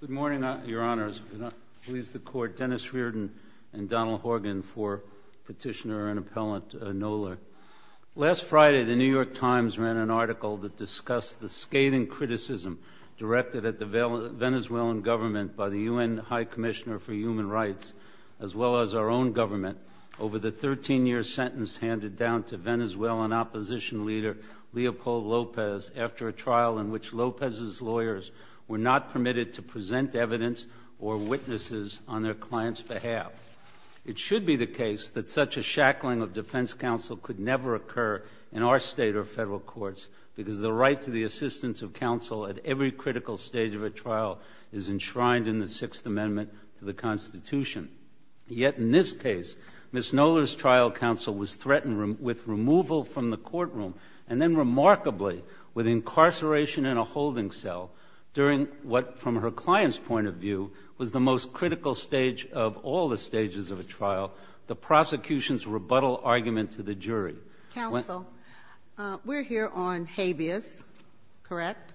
Good morning, Your Honors. Please the Court, Dennis Reardon and Donald Horgan for Petitioner and Appellant Knoller. Last Friday, the New York Times ran an article that discussed the scathing criticism directed at the Venezuelan government by the UN High Commissioner for Human Rights, as well as our own government, over the 13-year sentence handed down to Venezuelan opposition leader, Leopold Lopez, after a trial in which Lopez's lawyers were not permitted to present evidence or witnesses on their client's behalf. It should be the case that such a shackling of defense counsel could never occur in our state or federal courts because the right to the assistance of counsel at every critical stage of a trial is enshrined in the Sixth Amendment to the Constitution. Yet in this case, Ms. Knoller's trial counsel was threatened with removal from the courtroom, and then remarkably, with incarceration in a holding cell, during what, from her client's point of view, was the most critical stage of all the stages of a trial, the prosecution's rebuttal argument to the jury. Ginsburg-Miller, counsel, we're here on habeas, correct? Miller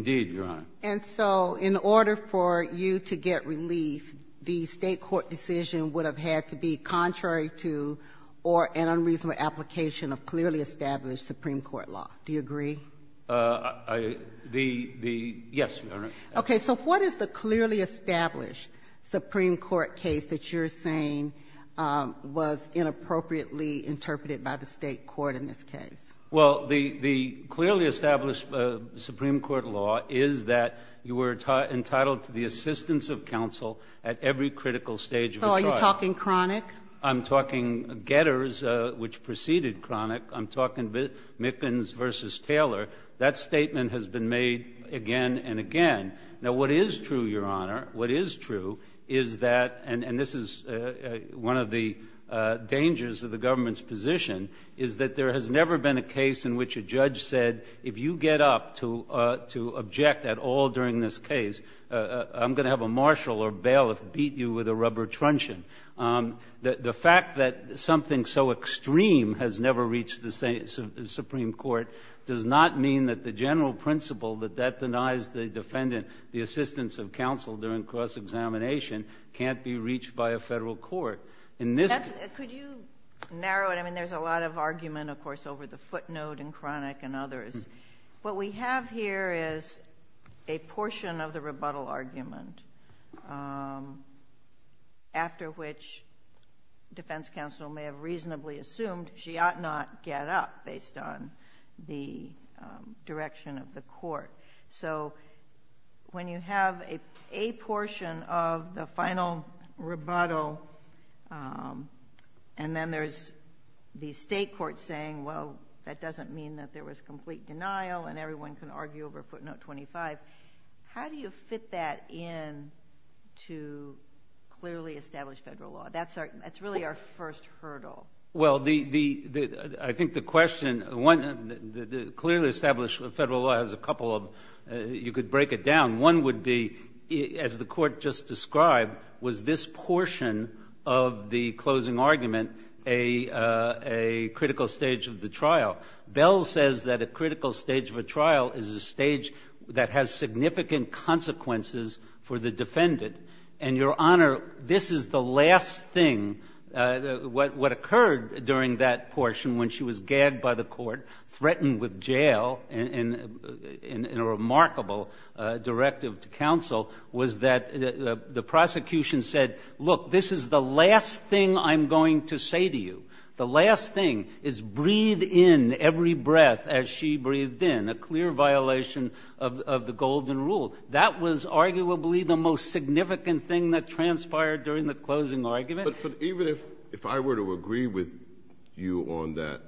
Indeed, Your Honor. Ginsburg-Miller And so in order for you to get relief, the State court decision would have had to be contrary to or an unreasonable application of clearly established Supreme Court law. Do you agree? Miller The — yes, Your Honor. Ginsburg-Miller Okay. So what is the clearly established Supreme Court case that you're saying was inappropriately interpreted by the State court in this case? Miller Well, the clearly established Supreme Court law is that you were entitled to the assistance of counsel at every critical stage of a trial. Ginsburg-Miller I'm not talking chronic. Miller I'm talking Getters, which preceded chronic. I'm talking Mickens v. Taylor. That statement has been made again and again. Now, what is true, Your Honor, what is true is that — and this is one of the dangers of the government's position — is that there has never been a case in which a judge said, if you get up to object at all during this case, I'm going to have a marshal or bailiff beat you with a rubber truncheon. The fact that something so extreme has never reached the Supreme Court does not mean that the general principle that that denies the defendant the assistance of counsel during cross-examination can't be reached by a Federal court. In this case — Kagan Could you narrow it? I mean, there's a lot of argument, of course, over the footnote and chronic and others. What we have here is a portion of the rebuttal argument after which defense counsel may have reasonably assumed she ought not get up based on the direction of the court. So when you have a portion of the final rebuttal and then there's the State court saying, well, that doesn't mean that there was complete denial and everyone can argue over footnote 25, how do you fit that in to clearly established Federal law? That's really our first hurdle. Well, I think the question — clearly established Federal law has a couple of — you could break it down. One would be, as the court just described, was this portion of the closing trial is a stage that has significant consequences for the defendant. And, Your Honor, this is the last thing — what occurred during that portion when she was gagged by the court, threatened with jail in a remarkable directive to counsel, was that the prosecution said, look, this is the last thing I'm going to say to you. The last thing is breathe in every breath as she breathed in, a clear violation of the Golden Rule. That was arguably the most significant thing that transpired during the closing argument. But even if I were to agree with you on that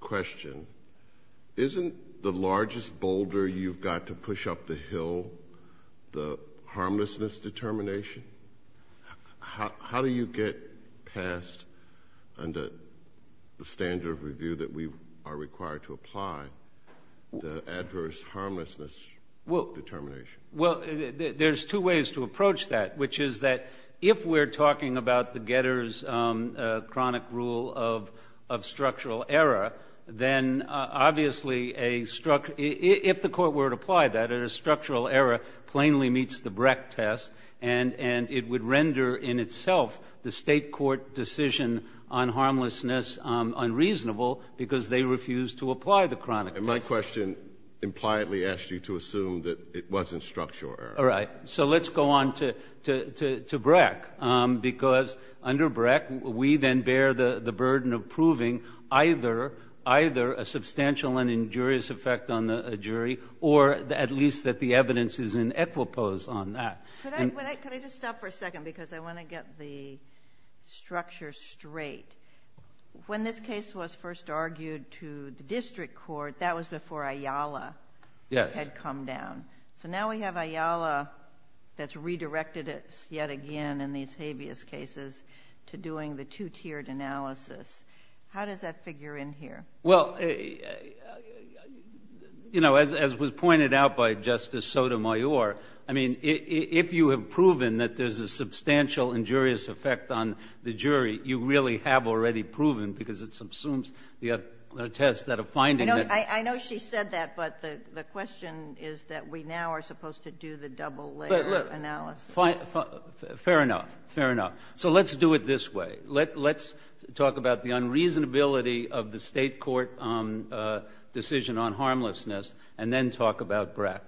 question, isn't the largest boulder you've got to push up the hill the harmlessness determination? How do you get past, under the standard of review that we are required to apply, the adverse harmlessness determination? Well, there's two ways to approach that, which is that if we're talking about the Getter's chronic rule of structural error, then obviously a — if the Court were to apply that, a structural error plainly meets the Breck test, and it would render in itself the State court decision on harmlessness unreasonable, because they refused to apply the chronic test. And my question impliedly asked you to assume that it wasn't structural error. All right. So let's go on to Breck, because under Breck, we then bear the burden of proving either a substantial and injurious effect on a jury, or at least that the evidence is in equipoise on that. Could I just stop for a second, because I want to get the structure straight. When this case was first argued to the district court, that was before Ayala had come down. So now we have Ayala that's redirected us yet again in these habeas cases to doing the two-tiered analysis. How does that figure in here? Well, you know, as was pointed out by Justice Sotomayor, I mean, if you have proven that there's a substantial injurious effect on the jury, you really have already proven, because it subsumes the test that a finding that — I know she said that, but the question is that we now are supposed to do the double layer analysis. Fair enough. Fair enough. So let's do it this way. Let's talk about the unreasonability of the state court decision on harmlessness, and then talk about BRAC.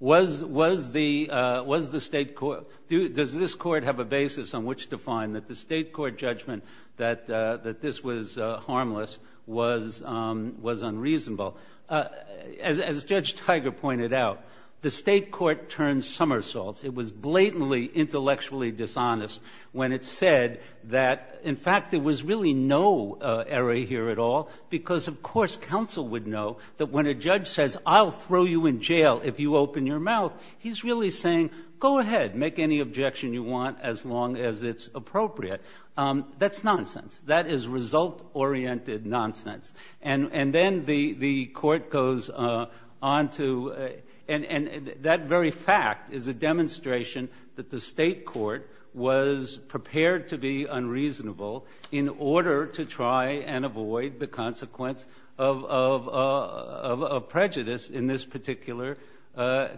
Was the state court — does this court have a basis on which to find that the state court judgment that this was harmless was unreasonable? As Judge Tiger pointed out, the state court turned somersaults. It was blatantly intellectually dishonest when it said that, in fact, there was really no error here at all, because, of course, counsel would know that when a judge says, I'll throw you in jail if you open your mouth, he's really saying, go ahead, make any objection you want as long as it's appropriate. That's nonsense. That is result-oriented nonsense. And then the court goes on to — and that very fact is a demonstration that the state court was prepared to be unreasonable in order to try and avoid the consequence of prejudice in this particular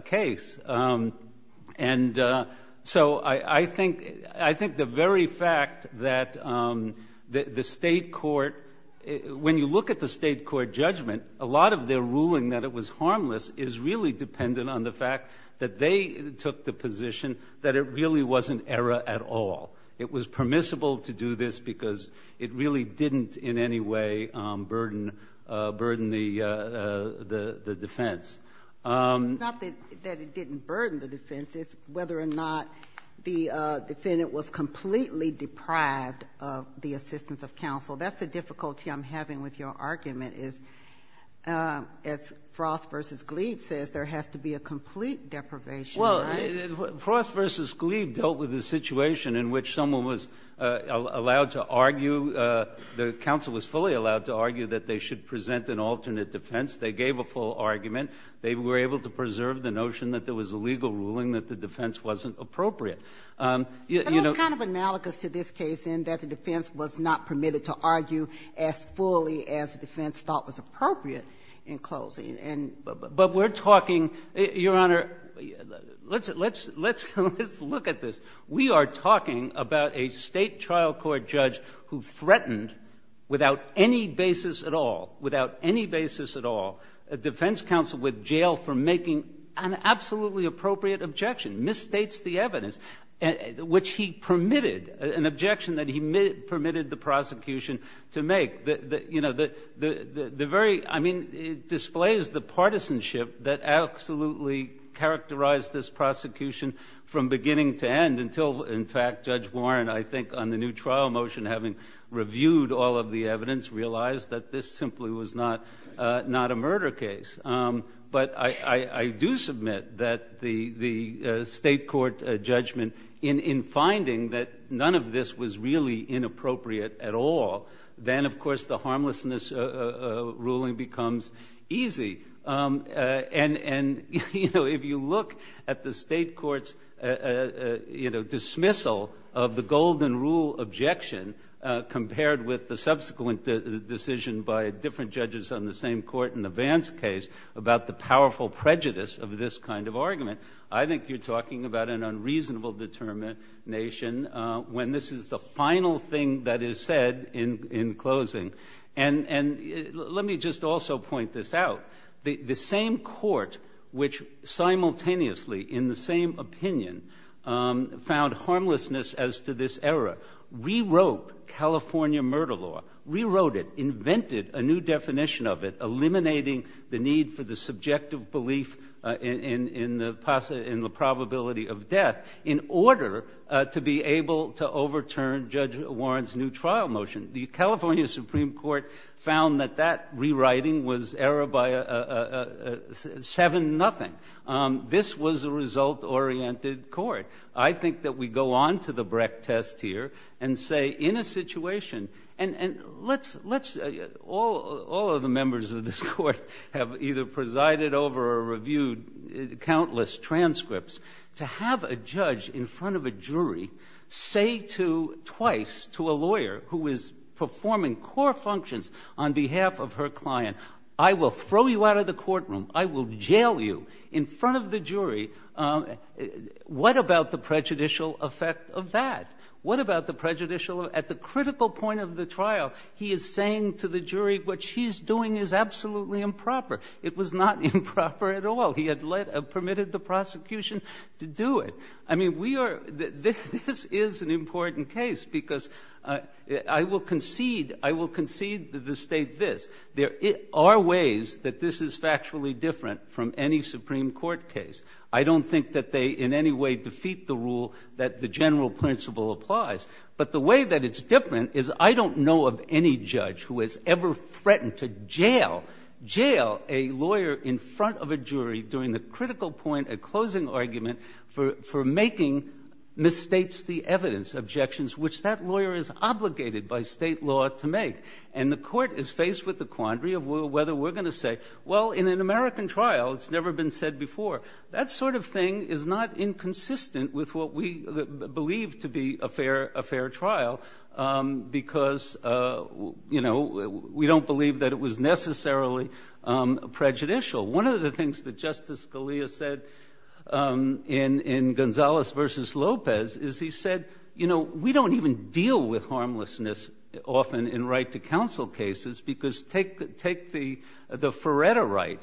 case. And so I think — I think the very fact that the state court — when you look at the state court judgment, a lot of their ruling that it was harmless is really dependent on the fact that they took the position that it really wasn't error at all. It was permissible to do this because it really didn't in any way burden the defense. It's not that it didn't burden the defense. It's whether or not the defendant was completely deprived of the assistance of counsel. That's the difficulty I'm having with your argument is, as Frost v. Gleave says, there has to be a complete deprivation, right? Well, Frost v. Gleave dealt with a situation in which someone was allowed to argue — the counsel was fully allowed to argue that they should present an alternate defense. They gave a full argument. They were able to preserve the notion that there was a legal ruling that the defense wasn't appropriate. You know — It's kind of analogous to this case in that the defense was not permitted to argue as fully as the defense thought was appropriate in closing, and — But we're talking — Your Honor, let's — let's — let's look at this. We are talking about a State trial court judge who threatened, without any basis at all, without any basis at all, a defense counsel with jail for making an absolutely appropriate objection, misstates the evidence, which he permitted — an objection that he permitted the prosecution to make. You know, the — the very — I mean, it displays the partisanship that absolutely characterized this prosecution from beginning to end until, in fact, Judge Warren, I think, on the new trial motion, having reviewed all of the evidence, realized that this simply was not — not a murder case. But I — I do submit that the — the State court judgment in — in finding that none of this was really inappropriate at all, then, of course, the harmlessness ruling becomes easy. And — and, you know, if you look at the State court's, you know, dismissal of the golden rule objection compared with the subsequent decision by different judges on the same court in the Vance case about the powerful prejudice of this kind of argument, I think you're talking about an unreasonable determination when this is the final thing that is said in — in closing. And — and let me just also point this out. The — the same court, which simultaneously, in the same opinion, found harmlessness as to this error, rewrote California murder law, rewrote it, invented a new definition of it, eliminating the need for the subjective belief in — in the — in the probability of death in order to be able to overturn Judge Warren's new trial motion. The California Supreme Court found that that rewriting was error by a — a seven-nothing. This was a result-oriented court. I think that we go on to the Brecht test here and say, in a situation — and — and let's — let's — all — all of the members of this court have either presided over or reviewed countless transcripts. To have a judge in front of a jury say to — twice to a lawyer who is performing core functions on behalf of her client, I will throw you out of the courtroom. I will jail you in front of the jury. What about the prejudicial effect of that? What about the prejudicial — at the critical point of the trial, he is saying to the jury what she's doing is absolutely improper. It was not improper at all. He had let — permitted the prosecution to do it. I mean, we are — this — this is an important case, because I will concede — I will concede to the State this. There are ways that this is factually different from any Supreme Court case. I don't think that they in any way defeat the rule that the general principle applies. But the way that it's different is I don't know of any judge who has ever threatened to jail — jail a lawyer in front of a jury during the critical point, a closing argument for — for making misstates the evidence, objections which that lawyer is obligated by State law to make. And the Court is faced with the quandary of whether we're going to say, well, in an That sort of thing is not inconsistent with what we believe to be a fair — a fair trial, because, you know, we don't believe that it was necessarily prejudicial. One of the things that Justice Scalia said in — in Gonzales v. Lopez is he said, you know, we don't even deal with harmlessness often in right-to-counsel cases, because take — take the — the Feretta right.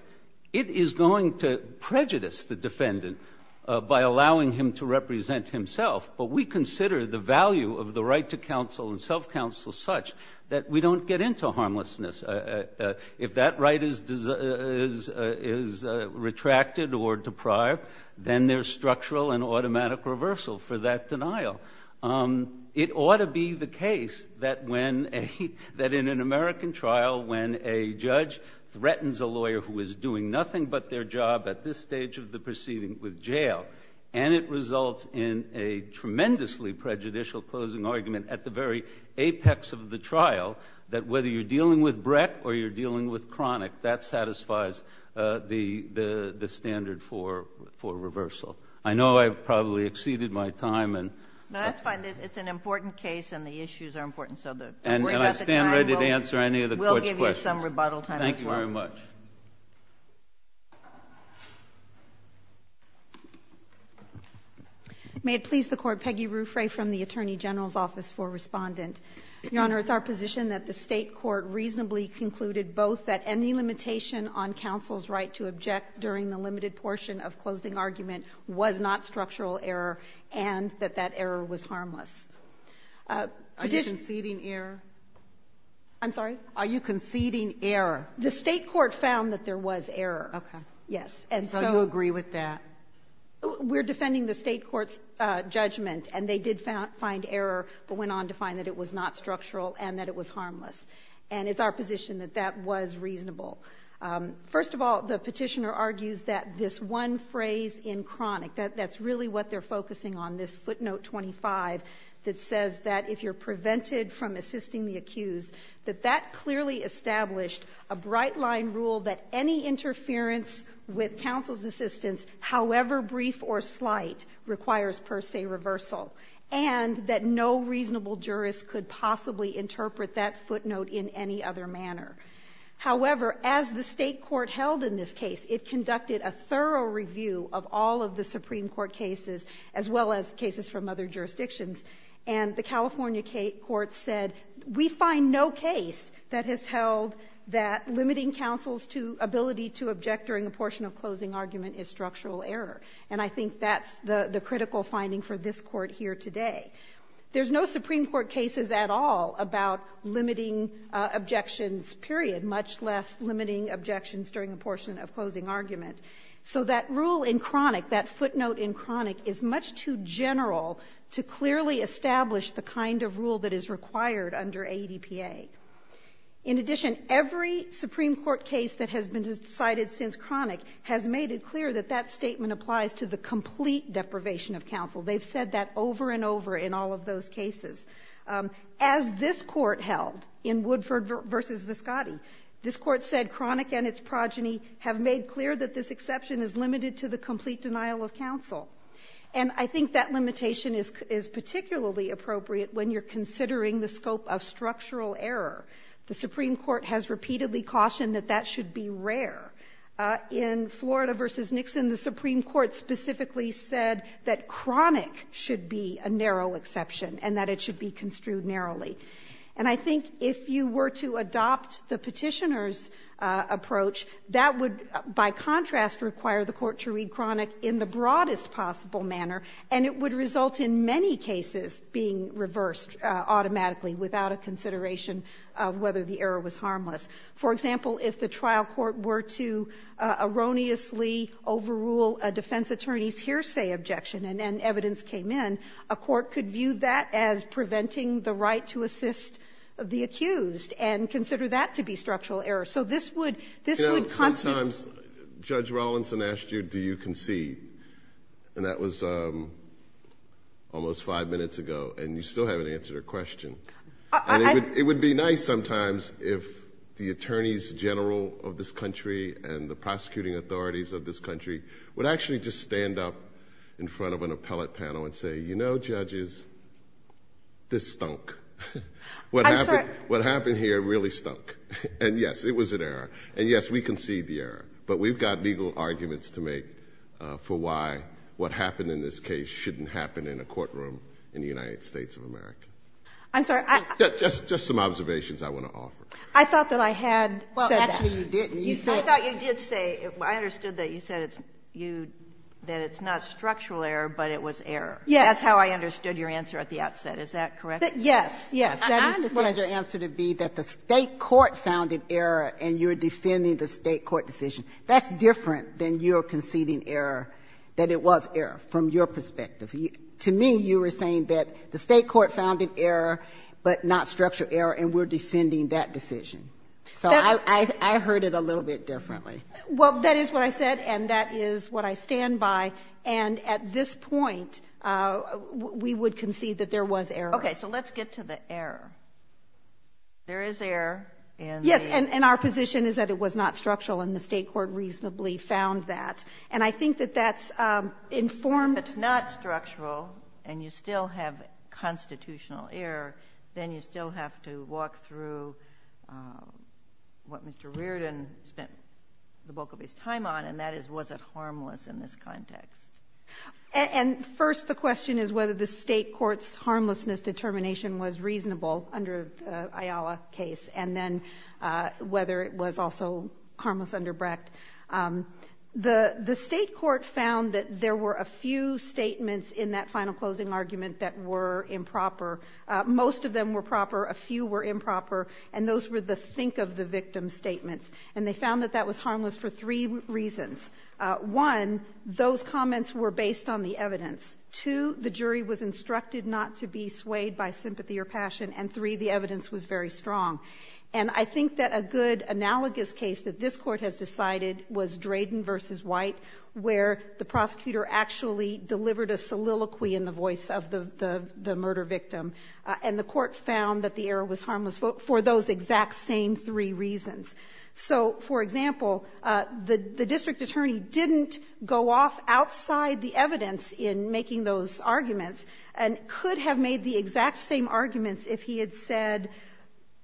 It is going to prejudice the defendant by allowing him to represent himself. But we consider the value of the right-to-counsel and self-counsel such that we don't get into harmlessness. If that right is — is — is retracted or deprived, then there's structural and automatic reversal for that denial. It ought to be the case that when a — that in an American trial, when a judge threatens a lawyer who is doing nothing but their job at this stage of the proceeding with jail and it results in a tremendously prejudicial closing argument at the very apex of the trial, that whether you're dealing with brec or you're dealing with chronic, that satisfies the — the — the standard for — for reversal. I know I've probably exceeded my time, and — No, that's fine. It's an important case and the issues are important, so the — And I stand ready to answer any of the Court's questions. We'll give you some rebuttal time as well. Thank you very much. May it please the Court. Peggy Ruffray from the Attorney General's Office for Respondent. Your Honor, it's our position that the State court reasonably concluded both that any limitation on counsel's right to object during the limited portion of closing argument was not structural error and that that error was harmless. Are you conceding error? I'm sorry? Are you conceding error? The State court found that there was error. Okay. Yes. And so — So you agree with that? We're defending the State court's judgment, and they did find error, but went on to find that it was not structural and that it was harmless. And it's our position that that was reasonable. First of all, the Petitioner argues that this one phrase in Cronic, that's really what they're focusing on, this footnote 25 that says that if you're prevented from assisting the accused, that that clearly established a bright-line rule that any interference with counsel's assistance, however brief or slight, requires per se reversal, and that no reasonable jurist could possibly interpret that footnote in any other manner. However, as the State court held in this case, it conducted a thorough review of all of the Supreme Court cases, as well as cases from other jurisdictions, and the California court said, we find no case that has held that limiting counsel's ability to object during a portion of closing argument is structural error. And I think that's the critical finding for this court here today. There's no Supreme Court cases at all about limiting objections, period, much less limiting objections during a portion of closing argument. So that rule in Cronic, that footnote in Cronic, is much too general to clearly establish the kind of rule that is required under ADPA. In addition, every Supreme Court case that has been cited since Cronic has made it clear that that statement applies to the complete deprivation of counsel. They've said that over and over in all of those cases. As this Court held in Woodford v. Viscotti, this Court said Cronic and its progeny have made clear that this exception is limited to the complete denial of counsel. And I think that limitation is particularly appropriate when you're considering the scope of structural error. The Supreme Court has repeatedly cautioned that that should be rare. In Florida v. Nixon, the Supreme Court specifically said that Cronic should be a narrow exception and that it should be construed narrowly. And I think if you were to adopt the Petitioner's approach, that would, by contrast, require the Court to read Cronic in the broadest possible manner, and it would result in many cases being reversed automatically without a consideration of whether the error was harmless. For example, if the trial court were to erroneously overrule a defense attorney's hearsay objection and evidence came in, a court could view that as preventing the right to assist the accused and consider that to be structural error. So this would constitute the case. Kennedy, sometimes Judge Rawlinson asked you, do you concede, and that was almost five minutes ago, and you still haven't answered her question. It would be nice sometimes if the attorneys general of this country and the prosecuting authorities of this country would actually just stand up in front of an appellate panel and say, you know, judges, this stunk. What happened here really stunk, and yes, it was an error, and yes, we concede the error, but we've got legal arguments to make for why what happened in this case shouldn't happen in a courtroom in the United States of America. I'm sorry. I don't think that's the answer. Just some observations I want to offer. I thought that I had said that. Well, actually, you didn't. I thought you did say, I understood that you said it's you, that it's not structural error, but it was error. Yes. That's how I understood your answer at the outset. Is that correct? Yes, yes. That is what I understood it to be, that the State court found an error, and you're defending the State court decision. That's different than your conceding error, that it was error, from your perspective. To me, you were saying that the State court found an error, but not structural error, and we're defending that decision. So I heard it a little bit differently. Well, that is what I said, and that is what I stand by, and at this point, we would concede that there was error. Okay. So let's get to the error. There is error in the verdict. Yes, and our position is that it was not structural, and the State court reasonably found that, and I think that that's informed. But if it's not structural, and you still have constitutional error, then you still have to walk through what Mr. Reardon spent the bulk of his time on, and that is, was it harmless in this context? And first, the question is whether the State court's harmlessness determination was reasonable under the Ayala case, and then whether it was also harmless under Brecht. The State court found that there were a few statements in that final closing argument that were improper. Most of them were proper. A few were improper, and those were the think-of-the-victim statements. And they found that that was harmless for three reasons. One, those comments were based on the evidence. Two, the jury was instructed not to be swayed by sympathy or passion. And three, the evidence was very strong. And I think that a good analogous case that this Court has decided was Drayden v. White, where the prosecutor actually delivered a soliloquy in the voice of the murder victim, and the Court found that the error was harmless for those exact same three reasons. So, for example, the district attorney didn't go off outside the evidence in making those arguments, and could have made the exact same arguments if he had said the very same thing.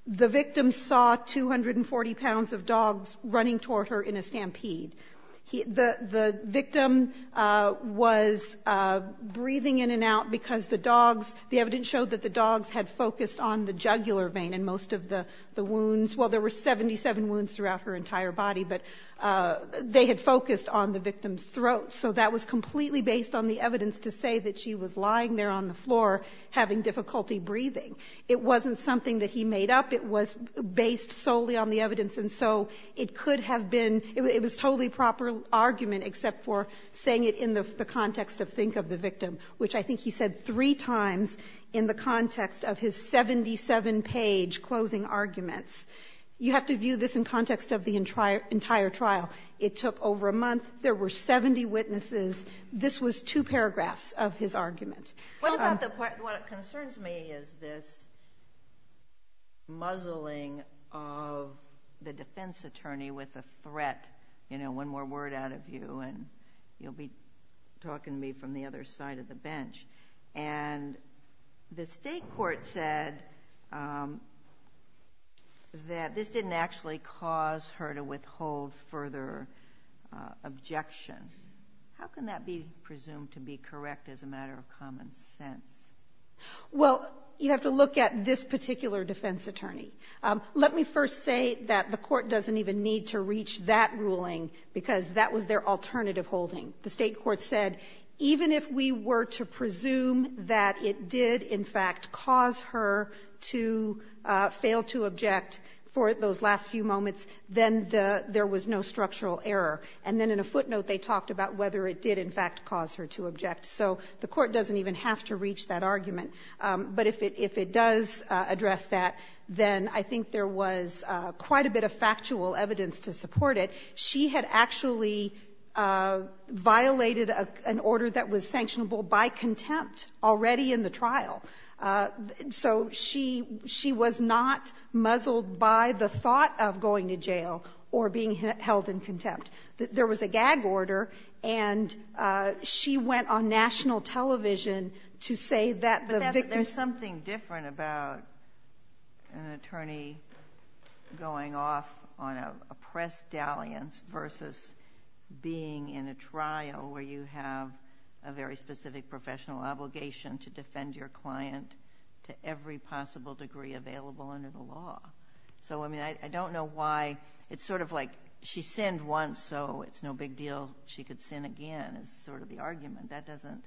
The victim saw 240 pounds of dogs running toward her in a stampede. The victim was breathing in and out because the dogs, the evidence showed that the dogs had focused on the jugular vein in most of the wounds. Well, there were 77 wounds throughout her entire body, but they had focused on the victim's throat. So that was completely based on the evidence to say that she was lying there on the floor having difficulty breathing. It wasn't something that he made up. It was based solely on the evidence. And so it could have been – it was a totally proper argument, except for saying it in the context of think of the victim, which I think he said three times in the context of his 77-page closing arguments. You have to view this in context of the entire trial. It took over a month. There were 70 witnesses. This was two paragraphs of his argument. What about the – what concerns me is this muzzling of the defense attorney with a threat, you know, one more word out of you and you'll be talking to me from the other side of the bench. And the state court said that this didn't actually cause her to withhold further objection. How can that be presumed to be correct as a matter of common sense? Well, you have to look at this particular defense attorney. Let me first say that the Court doesn't even need to reach that ruling because that was their alternative holding. The state court said even if we were to presume that it did, in fact, cause her to fail to object for those last few moments, then there was no structural error. And then in a footnote, they talked about whether it did, in fact, cause her to object. So the Court doesn't even have to reach that argument. But if it does address that, then I think there was quite a bit of factual evidence to support it. She had actually violated an order that was sanctionable by contempt already in the trial. So she was not muzzled by the thought of going to jail or being held in contempt. There was a gag order, and she went on national television to say that the victim's But there's something different about an attorney going off on a press dalliance versus being in a trial where you have a very specific professional obligation to defend your client to every possible degree available under the law. So, I mean, I don't know why it's sort of like she sinned once, so it's no big deal she could sin again is sort of the argument. That doesn't,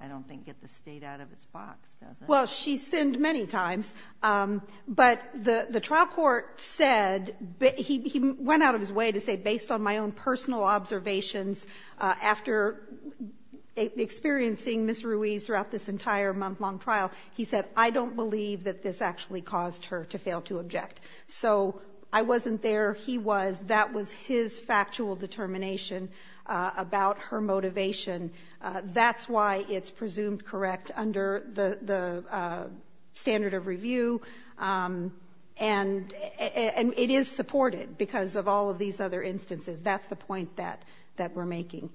I don't think, get the state out of its box, does it? Well, she sinned many times. But the trial court said he went out of his way to say based on my own personal observations after experiencing Ms. Ruiz throughout this entire month-long trial, he said, I don't believe that this actually caused her to fail to object. So I wasn't there, he was. That was his factual determination about her motivation. That's why it's presumed correct under the standard of review. And it is supported because of all of these other instances. That's the point that we're making.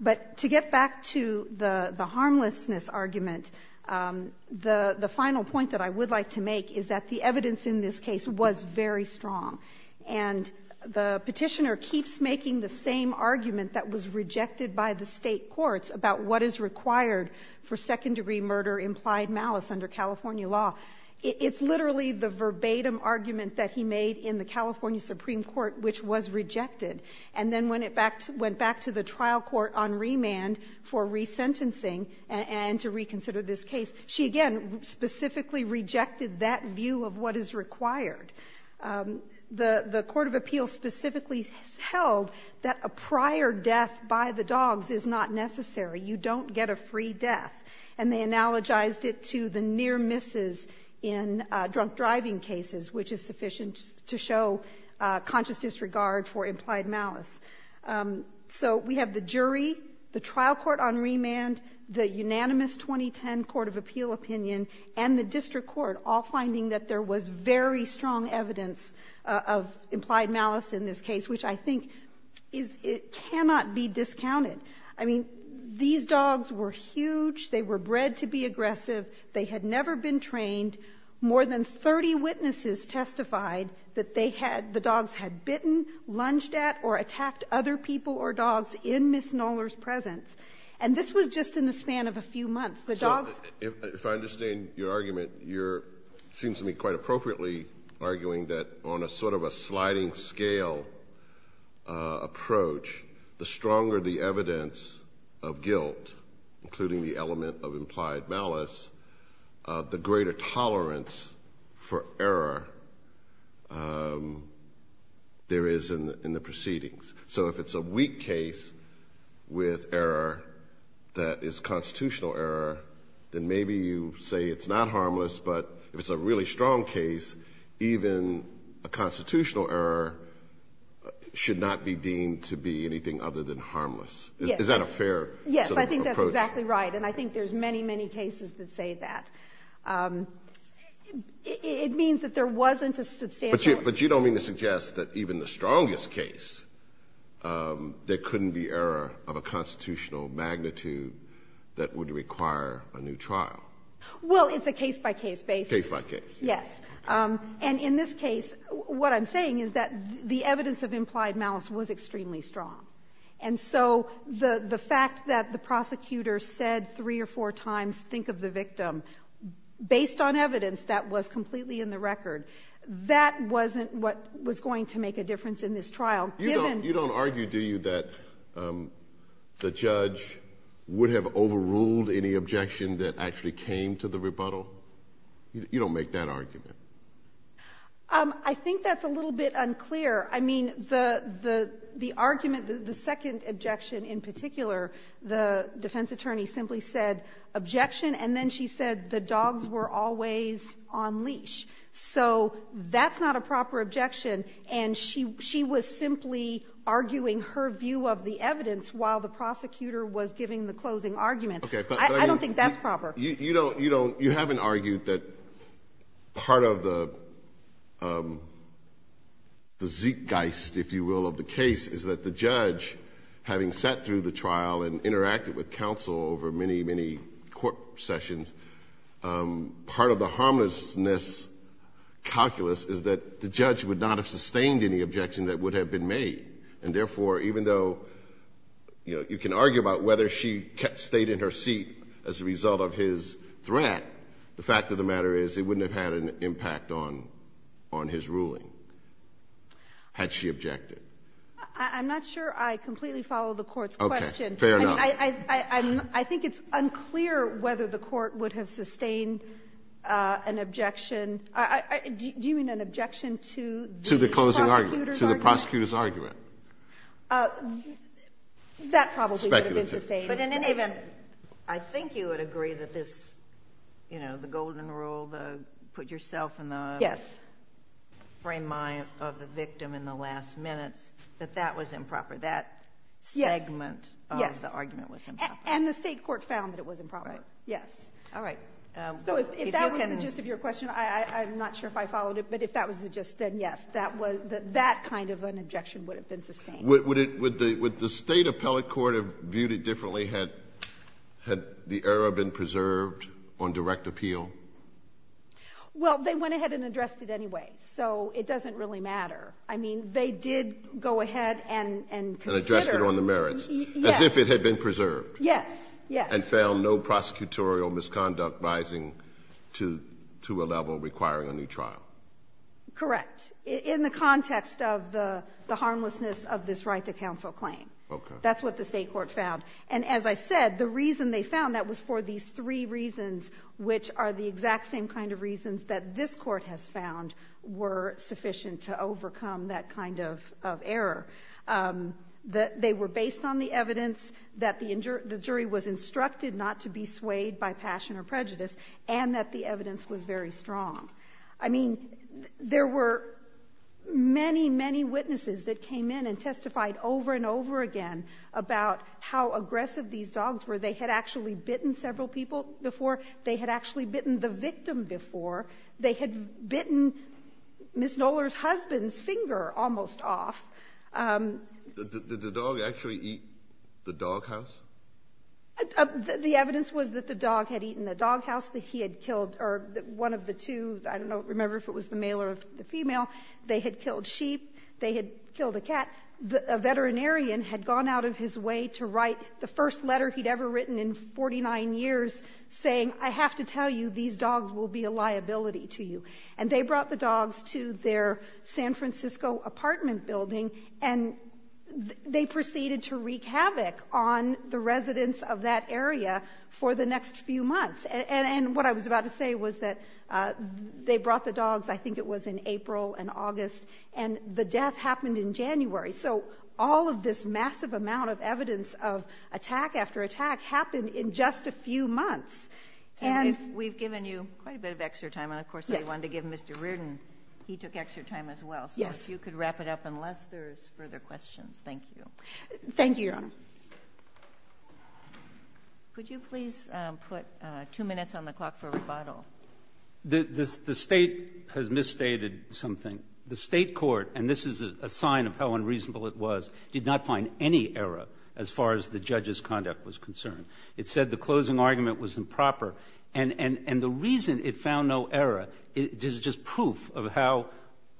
But to get back to the harmlessness argument, the final point that I would like to make is that the evidence in this case was very strong. And the petitioner keeps making the same argument that was rejected by the state courts about what is required for second-degree murder implied malice under California law. It's literally the verbatim argument that he made in the California Supreme Court, which was rejected. And then when it went back to the trial court on remand for resentencing and to reconsider this case, she again specifically rejected that view of what is required. The court of appeals specifically held that a prior death by the dogs is not necessary. You don't get a free death. And they analogized it to the near misses in drunk driving cases, which is sufficient to show conscious disregard for implied malice. So we have the jury, the trial court on remand, the unanimous 2010 court of appeal opinion, and the district court all finding that there was very strong evidence of implied malice in this case, which I think is — it cannot be discounted. I mean, these dogs were huge. They were bred to be aggressive. They had never been trained. More than 30 witnesses testified that they had — the dogs had bitten, lunged at, or attacked other people or dogs in Ms. Knoller's presence. And this was just in the span of a few months. The dogs — Kennedy, if I understand your argument, you're — it seems to me quite appropriately arguing that on a sort of a sliding-scale approach, the stronger the evidence of guilt, including the element of implied malice, the greater tolerable the evidence of tolerance for error there is in the proceedings. So if it's a weak case with error that is constitutional error, then maybe you say it's not harmless, but if it's a really strong case, even a constitutional error should not be deemed to be anything other than harmless. Is that a fair sort of approach? Yes, I think that's exactly right. And I think there's many, many cases that say that. It means that there wasn't a substantial — But you don't mean to suggest that even the strongest case, there couldn't be error of a constitutional magnitude that would require a new trial. Well, it's a case-by-case basis. Case-by-case. Yes. And in this case, what I'm saying is that the evidence of implied malice was extremely strong. And so the fact that the prosecutor said three or four times, think of the victim, based on evidence that was completely in the record, that wasn't what was going to make a difference in this trial, given — You don't argue, do you, that the judge would have overruled any objection that actually came to the rebuttal? You don't make that argument? I think that's a little bit unclear. I mean, the argument, the second objection in particular, the defense attorney simply said, objection, and then she said the dogs were always on leash. So that's not a proper objection, and she was simply arguing her view of the evidence while the prosecutor was giving the closing argument. I don't think that's proper. You don't — you haven't argued that part of the zeitgeist, if you will, of the case is that the judge, having sat through the trial and interacted with counsel over many, many court sessions, part of the harmlessness calculus is that the judge would not have sustained any objection that would have been made. And therefore, even though you can argue about whether she stayed in her seat as a threat, the fact of the matter is it wouldn't have had an impact on his ruling had she objected. I'm not sure I completely follow the Court's question. Fair enough. I think it's unclear whether the Court would have sustained an objection. Do you mean an objection to the prosecutor's argument? To the closing argument, to the prosecutor's argument. That probably would have been sustained. But in any event, I think you would agree that this, you know, the golden rule, the put yourself in the frame of the victim in the last minutes, that that was improper. That segment of the argument was improper. Yes. And the State court found that it was improper. Right. Yes. All right. So if that was the gist of your question, I'm not sure if I followed it. But if that was the gist, then yes, that kind of an objection would have been sustained. Would the State appellate court have viewed it differently had the error been preserved on direct appeal? Well, they went ahead and addressed it anyway, so it doesn't really matter. I mean, they did go ahead and consider the merits, as if it had been preserved. Yes. Yes. And found no prosecutorial misconduct rising to a level requiring a new trial. Correct. In the context of the harmlessness of this right to counsel claim. Okay. That's what the State court found. And as I said, the reason they found that was for these three reasons, which are the exact same kind of reasons that this Court has found were sufficient to overcome that kind of error. They were based on the evidence that the jury was instructed not to be swayed by passion or prejudice, and that the evidence was very strong. I mean, there were many, many witnesses that came in and testified over and over again about how aggressive these dogs were. They had actually bitten several people before. They had actually bitten the victim before. They had bitten Ms. Knoller's husband's finger almost off. Did the dog actually eat the doghouse? The evidence was that the dog had eaten the doghouse that he had killed, or one of the two, I don't remember if it was the male or the female. They had killed sheep. They had killed a cat. A veterinarian had gone out of his way to write the first letter he'd ever written in 49 years saying, I have to tell you, these dogs will be a liability to you. And they brought the dogs to their San Francisco apartment building, and they proceeded to wreak havoc on the residents of that area for the next few months. And what I was about to say was that they brought the dogs, I think it was in April and August, and the death happened in January. So all of this massive amount of evidence of attack after attack happened in just a few months. And we've given you quite a bit of extra time. And of course, I wanted to give Mr. Reardon, he took extra time as well. So if you could wrap it up, unless there's further questions. Thank you. Thank you, Your Honor. Could you please put two minutes on the clock for rebuttal? The State has misstated something. The State court, and this is a sign of how unreasonable it was, did not find any error as far as the judge's conduct was concerned. It said the closing argument was improper. And the reason it found no error is just proof of how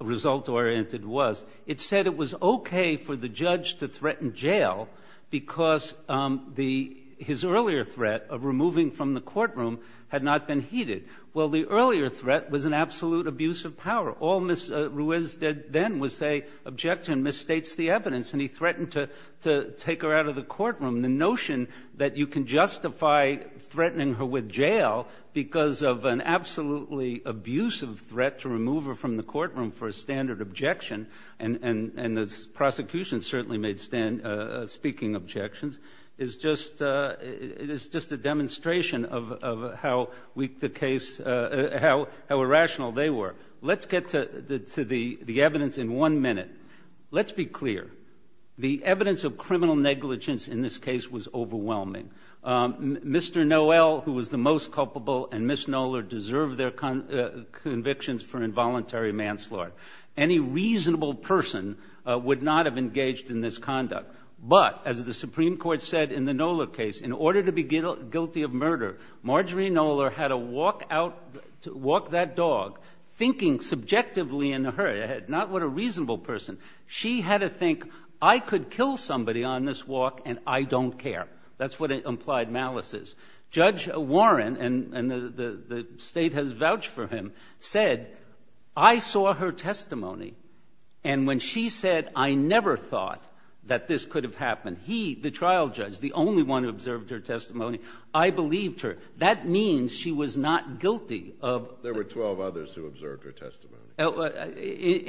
result-oriented it was. It said it was okay for the judge to threaten jail because the his earlier threat of removing from the courtroom had not been heeded. Well, the earlier threat was an absolute abuse of power. All Ms. Ruiz did then was say, object to and misstates the evidence. And he threatened to take her out of the courtroom. The notion that you can justify threatening her with jail because of an absolutely abusive threat to remove her from the courtroom for a standard objection. And the prosecution certainly made speaking objections. It's just a demonstration of how weak the case, how irrational they were. Let's get to the evidence in one minute. Let's be clear. The evidence of criminal negligence in this case was overwhelming. Mr. Noel, who was the most culpable, and Ms. Knoller deserve their convictions for involuntary manslaughter. Any reasonable person would not have engaged in this conduct. But, as the Supreme Court said in the Knoller case, in order to be guilty of murder, Marjorie Knoller had to walk that dog thinking subjectively in her head. Not what a reasonable person. She had to think, I could kill somebody on this walk and I don't care. That's what implied malice is. Judge Warren, and the state has vouched for him, said, I saw her testimony, and when she said, I never thought that this could have happened, he, the trial judge, the only one who observed her testimony, I believed her. That means she was not guilty of the ---- There were 12 others who observed her testimony.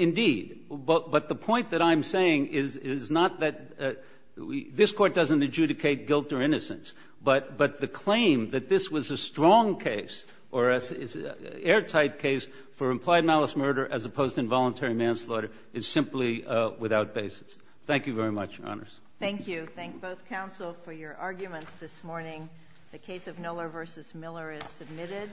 Indeed. But the point that I'm saying is not that this Court doesn't adjudicate guilt or innocence. But the claim that this was a strong case or an airtight case for implied malice murder as opposed to involuntary manslaughter is simply without basis. Thank you very much, Your Honors. Thank you. Thank both counsel for your arguments this morning. The case of Knoller v. Miller is submitted.